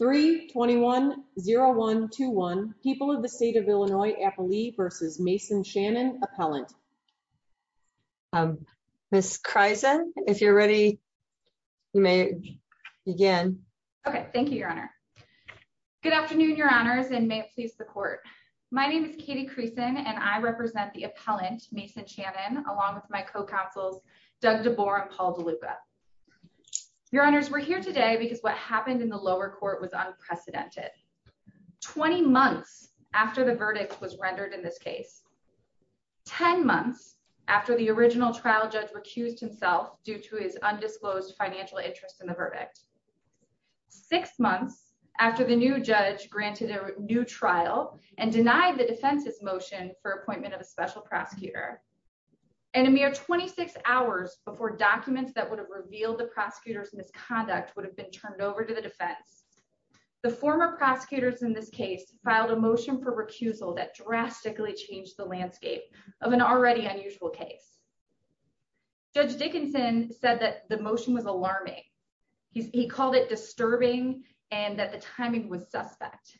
3 2 1 0 1 2 1 people of the state of Illinois Appalee v. Mason Shannon appellant. Miss Kreisen, if you're ready, you may begin. Okay. Thank you, Your Honor. Good afternoon, Your Honors, and may it please the court. My name is Katie Creason and I represent the appellant, Mason Shannon, along with my co-counsels Doug DeBoer and Paul DeLuca. Your Honors, we're here today because what happened in the lower court was unprecedented. Twenty months after the verdict was rendered in this case, ten months after the original trial judge recused himself due to his undisclosed financial interest in the verdict, six months after the new judge granted a new trial and denied the defense's motion for appointment of a special prosecutor, and a mere 26 hours before documents that would have revealed the prosecutor's misconduct would have been turned over to the defense, the former prosecutors in this case filed a motion for recusal that drastically changed the landscape of an already unusual case. Judge Dickinson said that the motion was alarming. He called it disturbing and that the timing was suspect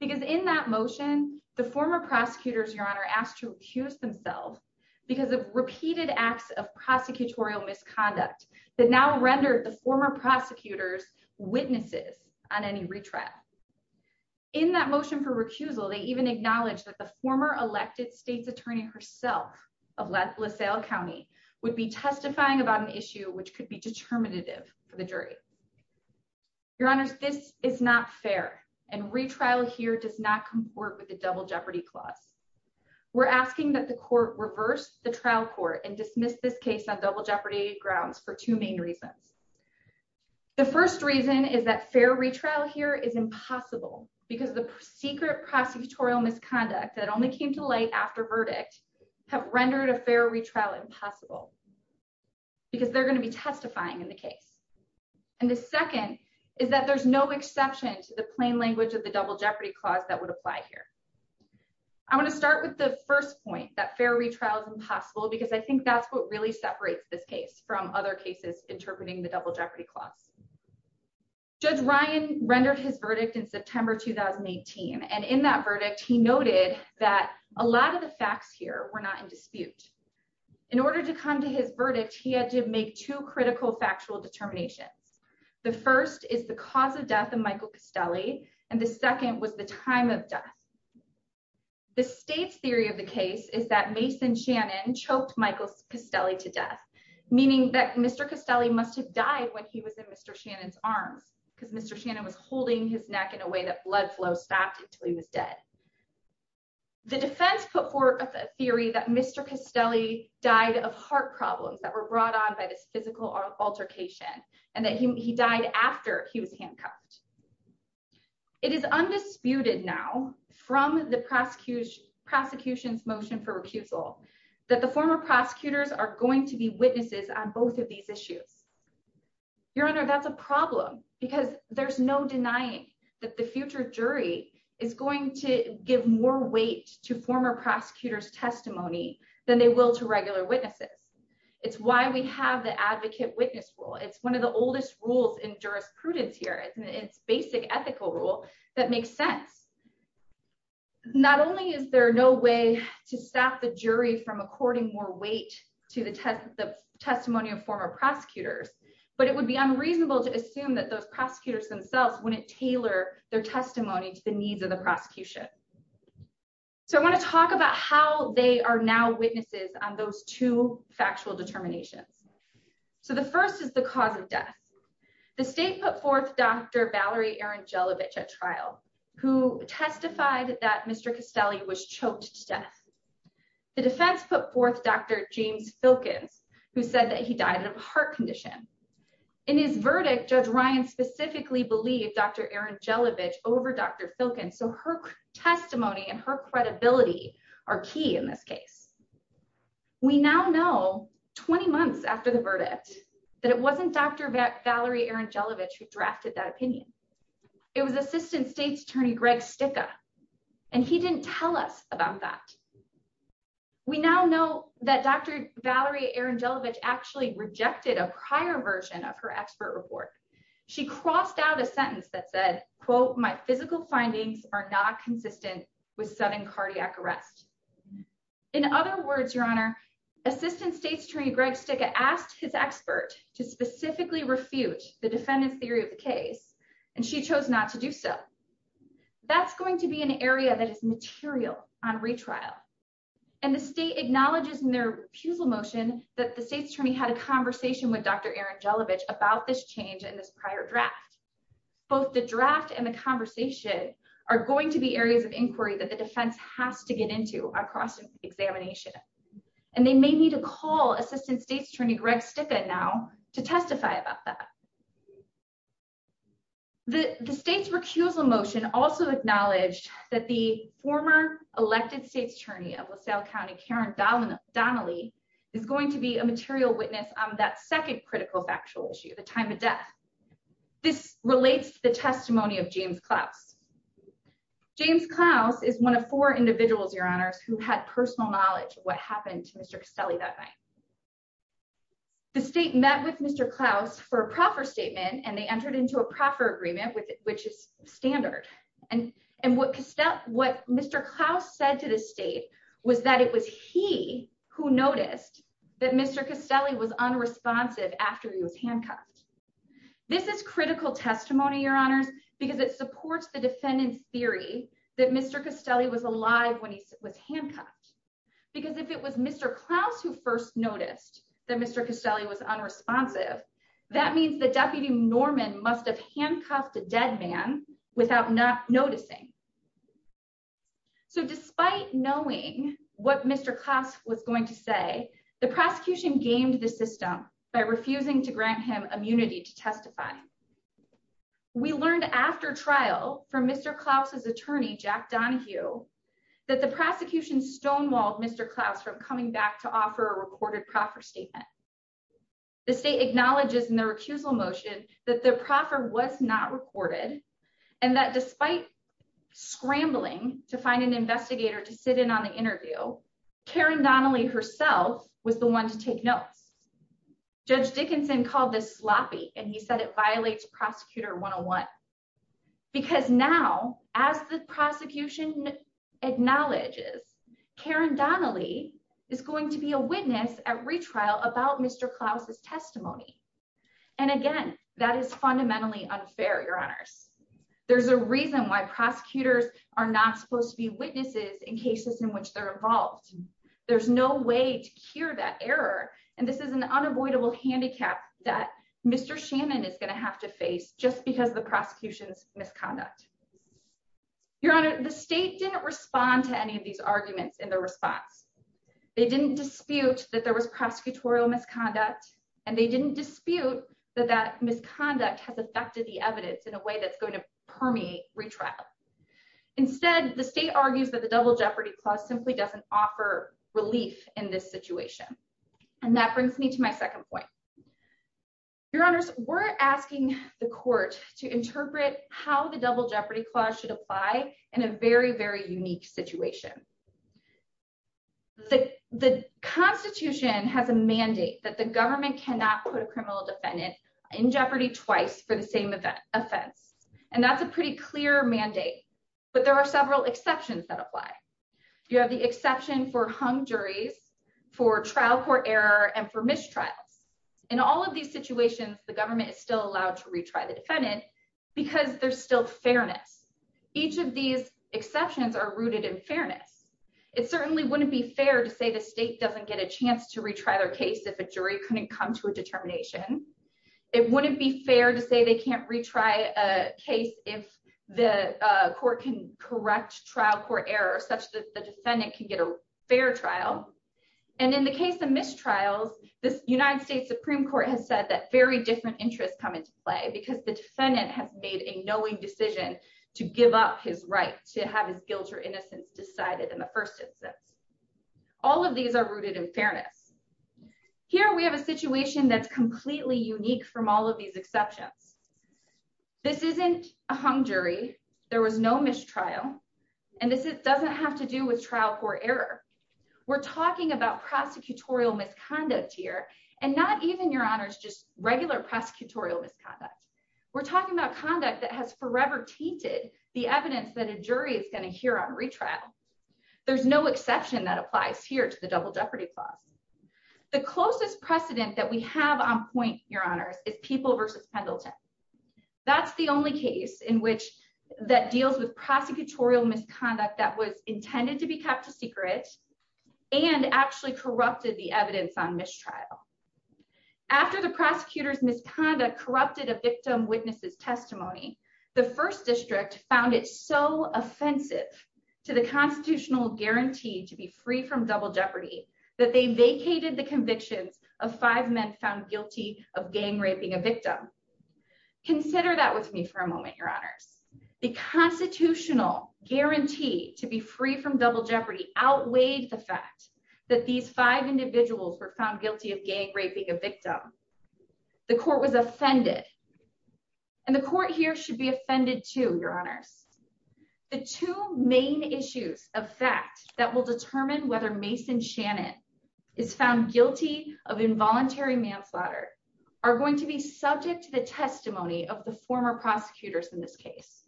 because in that motion, the former prosecutors, Your Honor, asked to recuse themselves because of repeated acts of prosecutorial misconduct that now rendered the former prosecutors witnesses on any retrial. In that motion for recusal, they even acknowledged that the former elected state's attorney herself of LaSalle County would be testifying about an issue which could be determinative for the jury. Your Honors, this is not fair and retrial here does not comport with the double jeopardy clause. We're asking that the court reverse the trial court and dismiss this case on double jeopardy grounds for two main reasons. The first reason is that fair retrial here is impossible because the secret prosecutorial misconduct that only came to light after verdict have rendered a fair retrial impossible because they're going to be testifying in the case. And the second is that there's no exception to the plain language of the double jeopardy clause that would apply here. I want to start with the first point that fair retrial is impossible because I think that's what really separates this case from other cases interpreting the double jeopardy clause. Judge Ryan rendered his verdict in September 2018. And in that verdict, he noted that a lot of the facts here were not in dispute. In order to come to his verdict, he had to make two critical factual determinations. The first is the cause of death of Michael Castelli and the second was the time of death. The state's theory of the case is that Mason Shannon choked Michael Castelli to death, meaning that Mr. Castelli must have died when he was in Mr. Shannon's arms because Mr. Shannon was holding his neck in a way that blood flow stopped until he was dead. The defense put forth a theory that Mr. Castelli died of heart problems that were brought on by this physical altercation and that he died after he was handcuffed. It is undisputed now from the prosecution's motion for recusal that the former prosecutors are going to be witnesses on both of these issues. Your Honor, that's a problem because there's no denying that the future jury is going to give more weight to former prosecutors' testimony than they will to regular witnesses. It's why we have the advocate witness rule. It's one of the oldest rules in jurisprudence here. It's basic ethical rule that makes sense. Not only is there no way to stop the jury from according more weight to the testimony of former prosecutors, but it would be unreasonable to assume that those prosecutors themselves wouldn't tailor their testimony to the needs of the prosecution. I want to talk about how they are now witnesses on those two factual determinations. The first is the cause of death. The state put forth Dr. Valerie Arangelovich at trial, who testified that Mr. Castelli was choked to death. The defense put forth Dr. James Filkins, who said that he died of a heart condition. In his verdict, Judge Ryan specifically believed Dr. Arangelovich over Dr. Filkins. So her testimony and her credibility are key in this case. We now know, 20 months after the verdict, that it wasn't Dr. Valerie Arangelovich who drafted that opinion. It was Assistant State's Attorney Greg Sticca, and he didn't tell us about that. We now know that Dr. Valerie Arangelovich actually rejected a prior version of her expert report. She crossed out a sentence that said, quote, my physical findings are not consistent with sudden cardiac arrest. In other words, Your Honor, Assistant State's Attorney Greg Sticca asked his expert to specifically refute the defendant's theory of the case, and she chose not to do so. That's going to be an area that is material on retrial. And the state acknowledges in their refusal motion that the state's attorney had a conversation with Dr. Arangelovich about this change in this prior draft. Both the draft and the conversation are going to be areas of inquiry that the defense has to get into across examination, and they may need to call Assistant State's Attorney Greg Sticca now to testify about that. The state's recusal motion also acknowledged that the former elected State's Attorney of critical factual issue, the time of death. This relates to the testimony of James Klaus. James Klaus is one of four individuals, Your Honors, who had personal knowledge of what happened to Mr. Castelli that night. The state met with Mr. Klaus for a proffer statement, and they entered into a proffer agreement, which is standard. And what Mr. Klaus said to the state was that it was he who noticed that Mr. Castelli was unresponsive after he was handcuffed. This is critical testimony, Your Honors, because it supports the defendant's theory that Mr. Castelli was alive when he was handcuffed. Because if it was Mr. Klaus who first noticed that Mr. Castelli was unresponsive, that means that Deputy Norman must have handcuffed a dead man without not noticing. So despite knowing what Mr. Klaus was going to say, the prosecution gamed the system by refusing to grant him immunity to testify. We learned after trial from Mr. Klaus's attorney, Jack Donahue, that the prosecution stonewalled Mr. Klaus from coming back to offer a recorded proffer statement. The state acknowledges in the recusal motion that the proffer was not recorded, and that despite scrambling to find an investigator to sit in on the interview, Karen Donnelly herself was the one to take notes. Judge Dickinson called this sloppy, and he said it violates Prosecutor 101. Because now, as the prosecution acknowledges, Karen Donnelly is going to be a witness at retrial about Mr. Klaus's testimony. And again, that is fundamentally unfair, Your Honors. There's a reason why prosecutors are not supposed to be witnesses in cases in which they're involved. There's no way to cure that error, and this is an unavoidable handicap that Mr. Shannon is going to have to face just because of the prosecution's misconduct. Your Honor, the state didn't respond to any of these arguments in their response. They didn't dispute that there was prosecutorial misconduct, and they didn't dispute that that is the way that's going to permeate retrial. Instead, the state argues that the Double Jeopardy Clause simply doesn't offer relief in this situation. And that brings me to my second point. Your Honors, we're asking the court to interpret how the Double Jeopardy Clause should apply in a very, very unique situation. The Constitution has a mandate that the government cannot put a criminal defendant in jeopardy twice for the same offense, and that's a pretty clear mandate. But there are several exceptions that apply. You have the exception for hung juries, for trial court error, and for mistrials. In all of these situations, the government is still allowed to retry the defendant because there's still fairness. Each of these exceptions are rooted in fairness. It certainly wouldn't be fair to say the state doesn't get a chance to retry their case if a jury couldn't come to a determination. It wouldn't be fair to say they can't retry a case if the court can correct trial court error such that the defendant can get a fair trial. And in the case of mistrials, the United States Supreme Court has said that very different interests come into play because the defendant has made a knowing decision to give up his right to have his guilt or innocence decided in the first instance. All of these are rooted in fairness. Here, we have a situation that's completely unique from all of these exceptions. This isn't a hung jury. There was no mistrial, and this doesn't have to do with trial court error. We're talking about prosecutorial misconduct here, and not even, Your Honors, just regular prosecutorial misconduct. We're talking about conduct that has forever tainted the evidence that a jury is going to hear on retrial. There's no exception that applies here to the double jeopardy clause. The closest precedent that we have on point, Your Honors, is People v. Pendleton. That's the only case in which that deals with prosecutorial misconduct that was intended to be kept a secret and actually corrupted the evidence on mistrial. After the prosecutor's misconduct corrupted a victim witness's testimony, the first district found it so offensive to the constitutional guarantee to be free from double jeopardy that they vacated the convictions of five men found guilty of gang raping a victim. Consider that with me for a moment, Your Honors. The constitutional guarantee to be free from double jeopardy outweighed the fact that these five individuals were found guilty of gang raping a victim. The court was offended. And the court here should be offended, too, Your Honors. The two main issues of fact that will determine whether Mason Shannon is found guilty of involuntary manslaughter are going to be subject to the testimony of the former prosecutors in this case.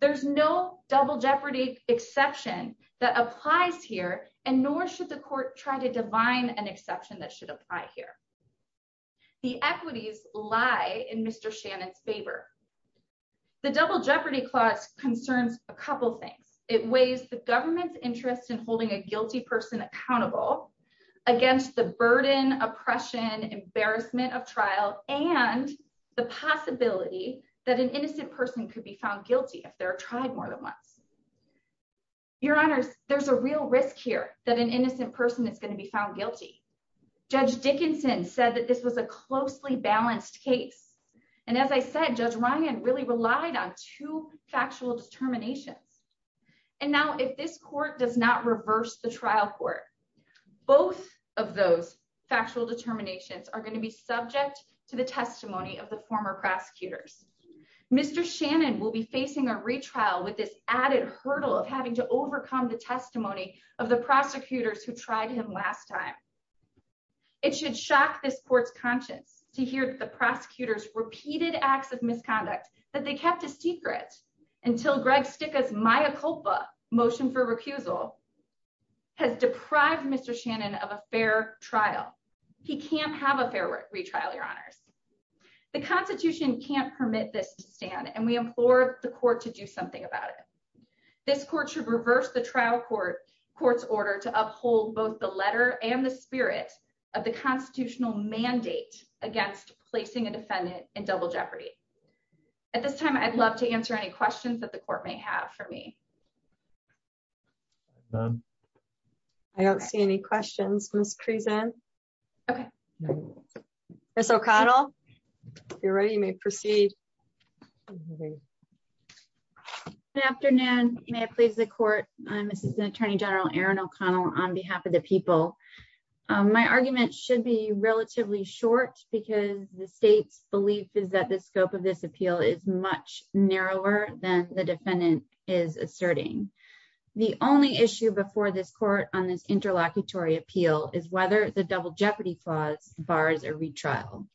There's no double jeopardy exception that applies here, and nor should the court try to divine an exception that should apply here. The equities lie in Mr. Shannon's favor. The double jeopardy clause concerns a couple things. It weighs the government's interest in holding a guilty person accountable against the burden, oppression, embarrassment of trial, and the possibility that an innocent person could be found guilty if they're tried more than once. Your Honors, there's a real risk here that an innocent person is going to be found guilty. Judge Dickinson said that this was a closely balanced case. And as I said, Judge Ryan really relied on two factual determinations. And now if this court does not reverse the trial court, both of those factual determinations are going to be subject to the testimony of the former prosecutors. Mr. Shannon will be facing a retrial with this added hurdle of having to overcome the It should shock this court's conscience to hear that the prosecutors repeated acts of misconduct that they kept a secret until Greg Sticca's Maya Culpa motion for recusal has deprived Mr. Shannon of a fair trial. He can't have a fair retrial, Your Honors. The Constitution can't permit this to stand, and we implore the court to do something about it. This court should reverse the trial court's order to uphold both the letter and the spirit of the constitutional mandate against placing a defendant in double jeopardy. At this time, I'd love to answer any questions that the court may have for me. I don't see any questions, Ms. Creason. Okay. Ms. O'Connell, if you're ready, you may proceed. Good afternoon. May I please the court? I'm Assistant Attorney General Erin O'Connell on behalf of the people. My argument should be relatively short because the state's belief is that the scope of this appeal is much narrower than the defendant is asserting. The only issue before this court on this interlocutory appeal is whether the double jeopardy clause bars a retrial.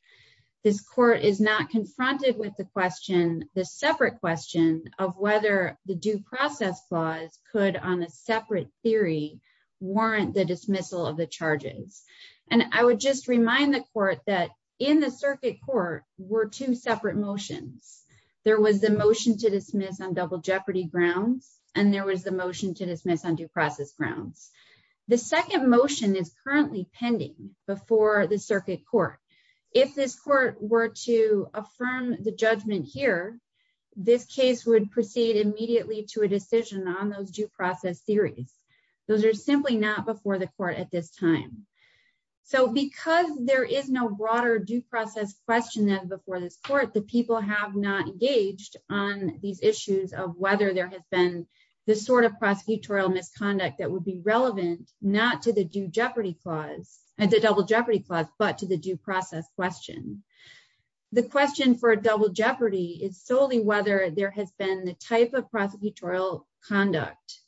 This court is not confronted with the question, the separate question, of whether the due process clause could, on a separate theory, warrant the dismissal of the charges. And I would just remind the court that in the circuit court were two separate motions. There was the motion to dismiss on double jeopardy grounds, and there was the motion to dismiss on due process grounds. The second motion is currently pending before the circuit court. If this court were to affirm the judgment here, this case would proceed immediately to a decision on those due process theories. Those are simply not before the court at this time. So because there is no broader due process question than before this court, the people have not engaged on these issues of whether there has been the sort of prosecutorial misconduct that would be relevant not to the due jeopardy clause, the double jeopardy clause, but to the due process question. The question for a double jeopardy is solely whether there has been the type of prosecutorial conduct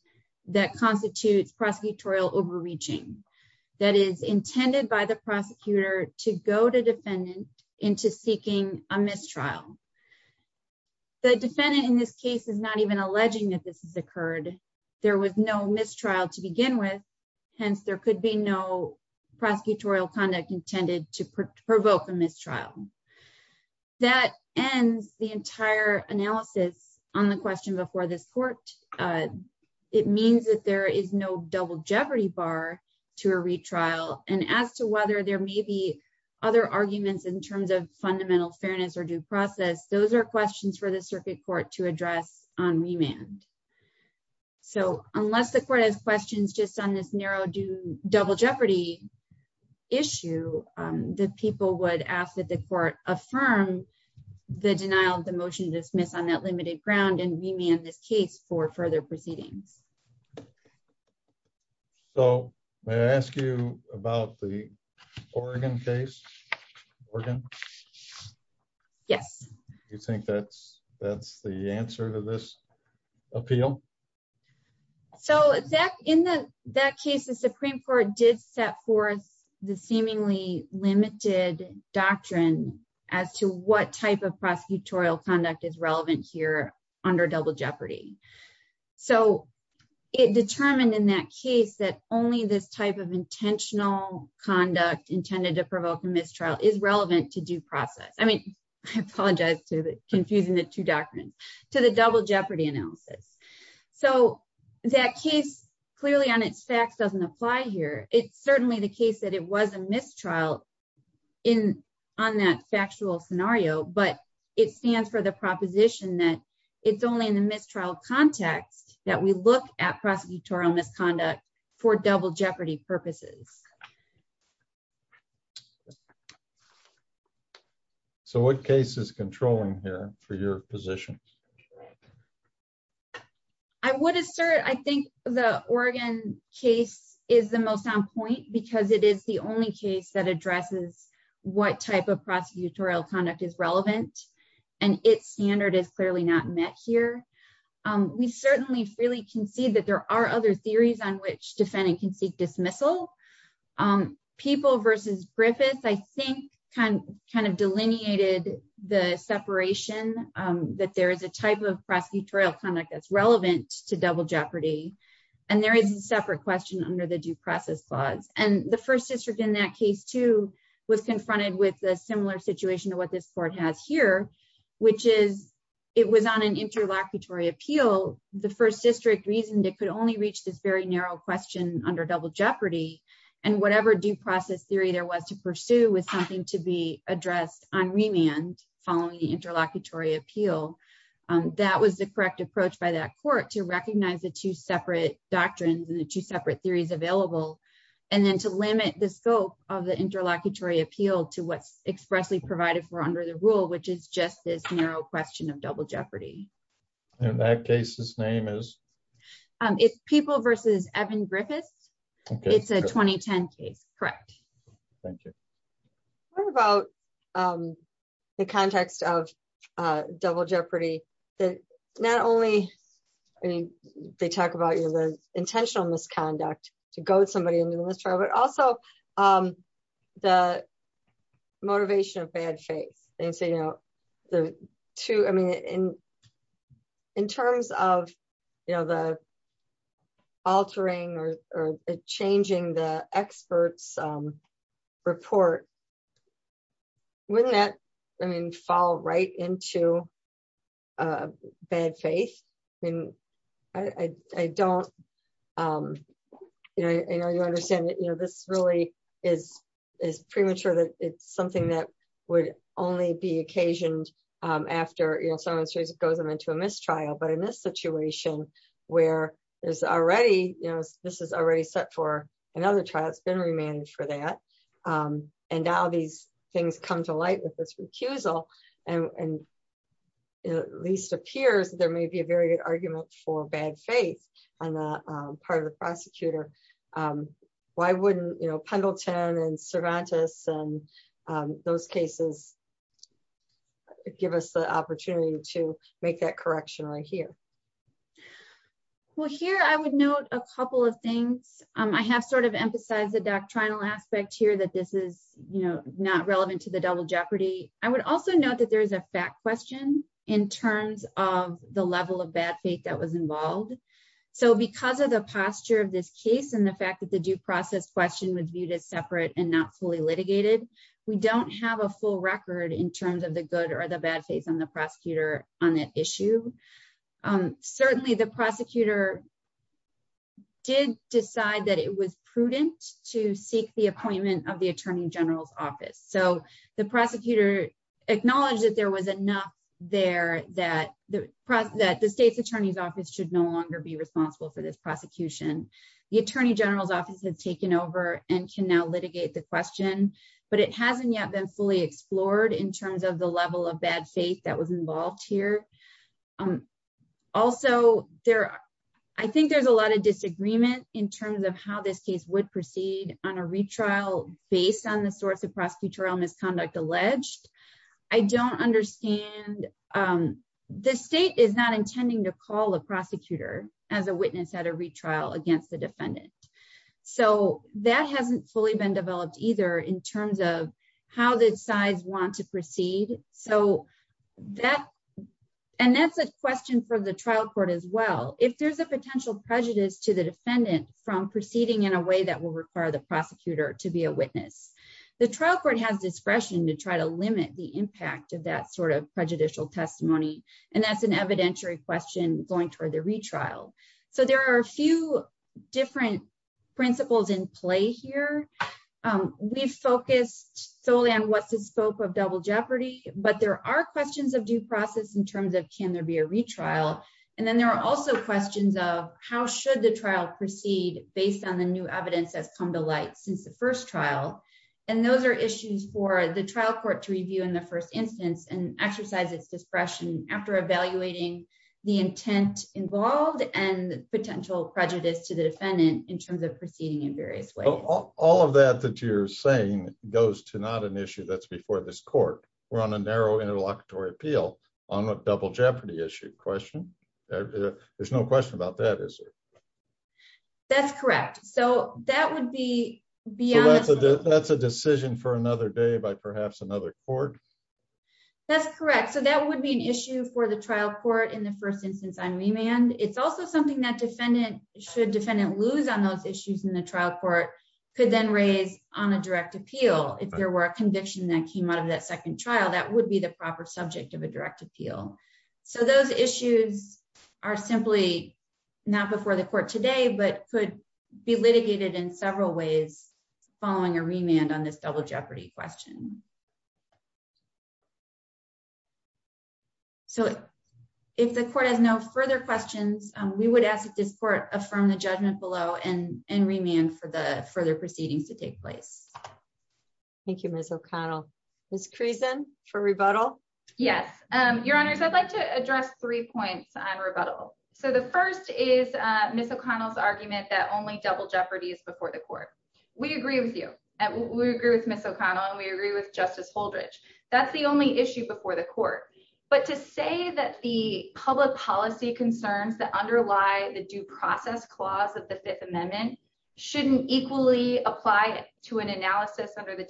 that constitutes prosecutorial overreaching, that is intended by the prosecutor to go to defendant into seeking a mistrial. The defendant in this case is not even alleging that this has occurred. There was no mistrial to begin with, hence there could be no prosecutorial conduct intended to provoke a mistrial. That ends the entire analysis on the question before this court. It means that there is no double jeopardy bar to a retrial, and as to whether there may be other arguments in terms of fundamental fairness or due process, those are questions for the circuit court to address on remand. So unless the court has questions just on this narrow double jeopardy issue, the people would ask that the court affirm the denial of the motion to dismiss on that limited ground and remand this case for further proceedings. So, may I ask you about the Oregon case? Oregon? Yes. Do you think that's the answer to this appeal? So in that case, the Supreme Court did set forth the seemingly limited doctrine as to what type of prosecutorial conduct is relevant here under double jeopardy. So it determined in that case that only this type of intentional conduct intended to provoke a mistrial is relevant to due process. I mean, I apologize for confusing the two doctrines, to the double jeopardy analysis. So that case clearly on its facts doesn't apply here. It's certainly the case that it was a mistrial on that factual scenario, but it stands for the proposition that it's only in the mistrial context that we look at prosecutorial misconduct for double jeopardy purposes. So what case is controlling here for your position? I would assert I think the Oregon case is the most on point because it is the only case that addresses what type of prosecutorial conduct is relevant and its standard is clearly not met here. We certainly really can see that there are other theories on which defendant can seek dismissal. People versus Griffith, I think kind of delineated the separation that there is a type of prosecutorial conduct that's relevant to double jeopardy. And there is a separate question under the due process clause. And the first district in that case, too, was confronted with a similar situation to what this court has here, which is it was on an interlocutory appeal. The first district reasoned it could only reach this very narrow question under double jeopardy. And whatever due process theory there was to pursue was something to be addressed on remand following the interlocutory appeal. That was the correct approach by that court to recognize the two separate doctrines and the two separate theories available, and then to limit the scope of the interlocutory appeal to what's expressly provided for under the rule, which is just this narrow question of double jeopardy. And that case's name is? It's People versus Evan Griffiths. It's a 2010 case. Correct. Thank you. What about the context of double jeopardy that not only, I mean, they talk about the intentional misconduct to goad somebody into the trial, but also the motivation of bad faith. And so, you know, the two, I mean, in terms of, you know, the altering or changing the experts' report, wouldn't that, I mean, fall right into bad faith? I mean, I don't, you know, I know you understand that, you know, this really is premature that it's something that would only be occasioned after, you know, someone goes into a mistrial. But in this situation where there's already, you know, this is already set for another trial, it's been remanded for that. And now these things come to light with this recusal, and it at least appears there may be a very good argument for bad faith on the part of the prosecutor. Why wouldn't, you know, Pendleton and Cervantes and those cases give us the opportunity to make that correction right here? Well, here I would note a couple of things. I have sort of emphasized the doctrinal aspect here that this is, you know, not relevant to the double jeopardy. I would also note that there is a fact question in terms of the level of bad faith that was involved. So because of the posture of this case and the fact that the due process question was viewed as separate and not fully litigated, we don't have a full record in terms of the good or the bad faith on the prosecutor on that issue. Certainly, the prosecutor did decide that it was prudent to seek the appointment of the attorney general's office. So the prosecutor acknowledged that there was enough there that the state's attorney's office should no longer be responsible for this prosecution. The attorney general's office has taken over and can now litigate the question, but it hasn't yet been fully explored in terms of the level of bad faith that was involved here. Also, I think there's a lot of disagreement in terms of how this case would proceed on a retrial based on the source of prosecutorial misconduct alleged. I don't understand. The state is not intending to call the prosecutor as a witness at a retrial against the defendant. So that hasn't fully been developed either in terms of how the sides want to proceed. So that and that's a question for the trial court as well. If there's a potential prejudice to the defendant from proceeding in a way that will require the prosecutor to be a witness, the trial court has discretion to try to limit the impact of that sort of prejudicial testimony. And that's an evidentiary question going toward the retrial. So there are a few different principles in play here. We focused solely on what's the scope of double jeopardy. But there are questions of due process in terms of can there be a retrial. And then there are also questions of how should the trial proceed based on the new evidence that's come to light since the first trial. And those are issues for the trial court to review in the first instance and exercise its discretion after evaluating the intent involved and potential prejudice to the defendant in terms of proceeding in various ways. All of that that you're saying goes to not an issue that's before this court. We're on a narrow interlocutory appeal on a double jeopardy issue question. There's no question about that, is there? That's correct. So that would be beyond. That's a decision for another day by perhaps another court. That's correct. So that would be an issue for the trial court in the first instance on remand. It's also something that defendant should defendant lose on those issues in the trial court could then raise on a direct appeal. If there were a conviction that came out of that second trial, that would be the proper subject of a direct appeal. So those issues are simply not before the court today, but could be litigated in several ways following a remand on this double jeopardy question. So if the court has no further questions, we would ask that this court affirm the judgment below and remand for the further proceedings to take place. Thank you, Ms. O'Connell. Ms. Creason for rebuttal. Yes, Your Honors. I'd like to address three points on rebuttal. So the first is Ms. O'Connell's argument that only double jeopardy is before the court. We agree with you. We agree with Ms. O'Connell and we agree with Justice Holdridge. That's the only issue before the court. But to say that the public policy concerns that underlie the due process clause of the Fifth Amendment shouldn't equally apply to an analysis under the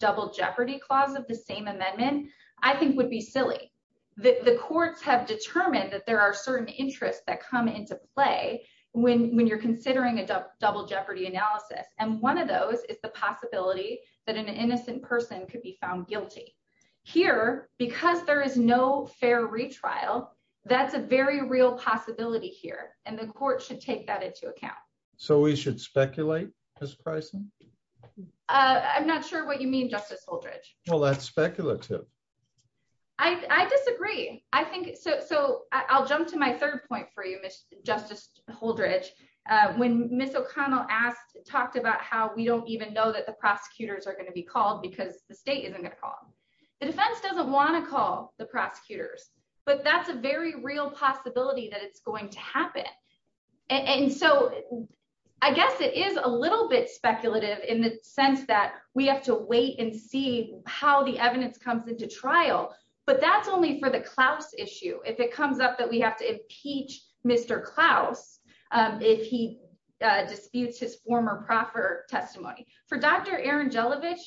double jeopardy clause of the same amendment, I think would be silly. The courts have determined that there are certain interests that come into play when you're considering a double jeopardy analysis. And one of those is the possibility that an innocent person could be found guilty. Here, because there is no fair retrial, that's a very real possibility here. And the court should take that into account. So we should speculate, Ms. Creason? I'm not sure what you mean, Justice Holdridge. Well, that's speculative. I disagree. So I'll jump to my third point for you, Justice Holdridge. When Ms. O'Connell talked about how we don't even know that the prosecutors are going to be called because the state isn't going to call them, the defense doesn't want to call the prosecutors. But that's a very real possibility that it's going to happen. And so I guess it is a little bit speculative in the sense that we have to wait and see how the evidence comes into trial. But that's only for the Klaus issue. If it comes up that we have to impeach Mr. Klaus if he disputes his former proffer testimony. For Dr. Aaron Jelovich,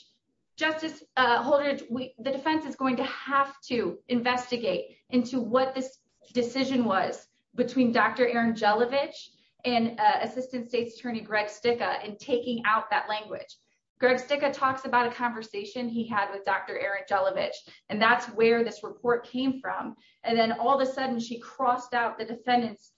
Justice Holdridge, the defense is going to have to investigate into what this decision was between Dr. Aaron Jelovich and Assistant State's Attorney Greg Sticca in taking out that language. Greg Sticca talks about a conversation he had with Dr. Aaron Jelovich, and that's where this report came from. And then all of a sudden, she crossed out the defendant's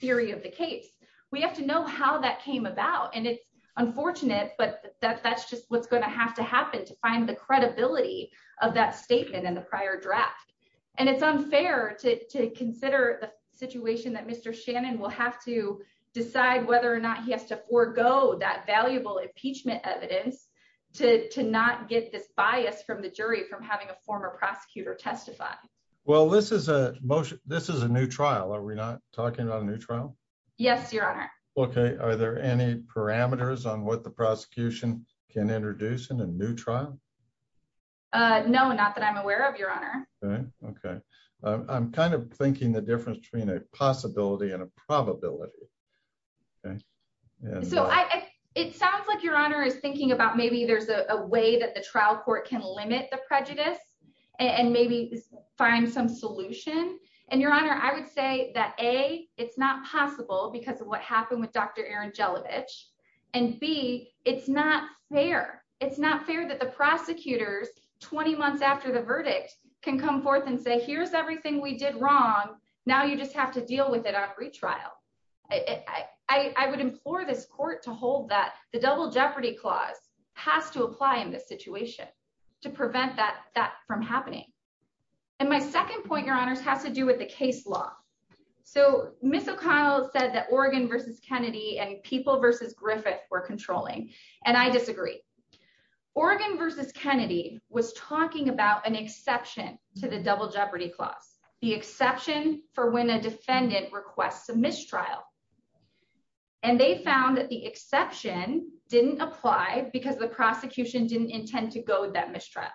theory of the case. We have to know how that came about. And it's unfortunate, but that's just what's going to have to happen to find the credibility of that statement in the prior draft. And it's unfair to consider the situation that Mr. Shannon will have to decide whether or not he has to forego that valuable impeachment evidence to not get this bias from the jury from having a former prosecutor testify. Well, this is a motion. This is a new trial. Are we not talking about a new trial? Yes, Your Honor. Okay. Are there any parameters on what the prosecution can introduce in a new trial? No, not that I'm aware of, Your Honor. Okay. I'm kind of thinking the difference between a possibility and a probability. So it sounds like Your Honor is thinking about maybe there's a way that the trial court can find some solution. And Your Honor, I would say that A, it's not possible because of what happened with Dr. Erin Jelovich. And B, it's not fair. It's not fair that the prosecutors 20 months after the verdict can come forth and say, here's everything we did wrong. Now you just have to deal with it on retrial. I would implore this court to hold that the double jeopardy clause has to apply in this situation to prevent that from happening. And my second point, Your Honors, has to do with the case law. So Ms. O'Connell said that Oregon versus Kennedy and People versus Griffith were controlling. And I disagree. Oregon versus Kennedy was talking about an exception to the double jeopardy clause, the exception for when a defendant requests a mistrial. And they found that the exception didn't apply because the prosecution didn't intend to go with that mistrial.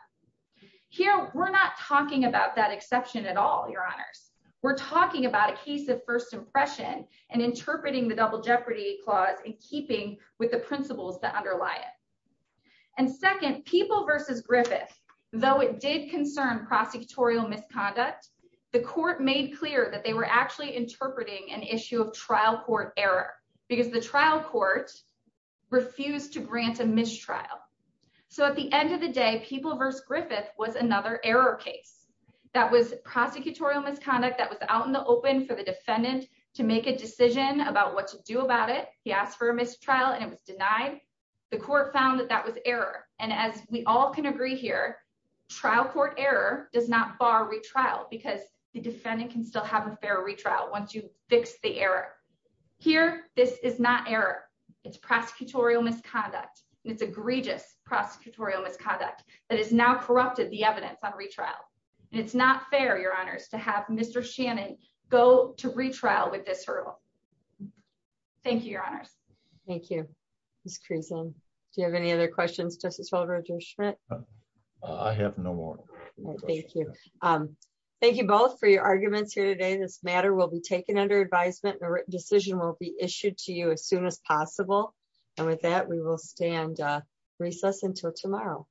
Here, we're not talking about that exception at all, Your Honors. We're talking about a case of first impression and interpreting the double jeopardy clause in keeping with the principles that underlie it. And second, People versus Griffith, though it did concern prosecutorial misconduct, the court made clear that they were actually interpreting an issue of trial court error because the trial court refused to grant a mistrial. So at the end of the day, People versus Griffith was another error case that was prosecutorial misconduct that was out in the open for the defendant to make a decision about what to do about it. He asked for a mistrial and it was denied. The court found that that was error. And as we all can agree here, trial court error does not bar retrial because the defendant can still have a fair retrial once you fix the error. Here, this is not error. It's prosecutorial misconduct. It's egregious prosecutorial misconduct that is now corrupted the evidence on retrial. And it's not fair, Your Honors, to have Mr. Shannon go to retrial with this hurdle. Thank you, Your Honors. Thank you, Ms. Creason. Do you have any other questions, Justice Waldroger-Schmidt? I have no more. Thank you. Thank you both for your arguments here today. This matter will be taken under advisement and a written decision will be issued to you as soon as possible. And with that, we will stand recess until tomorrow.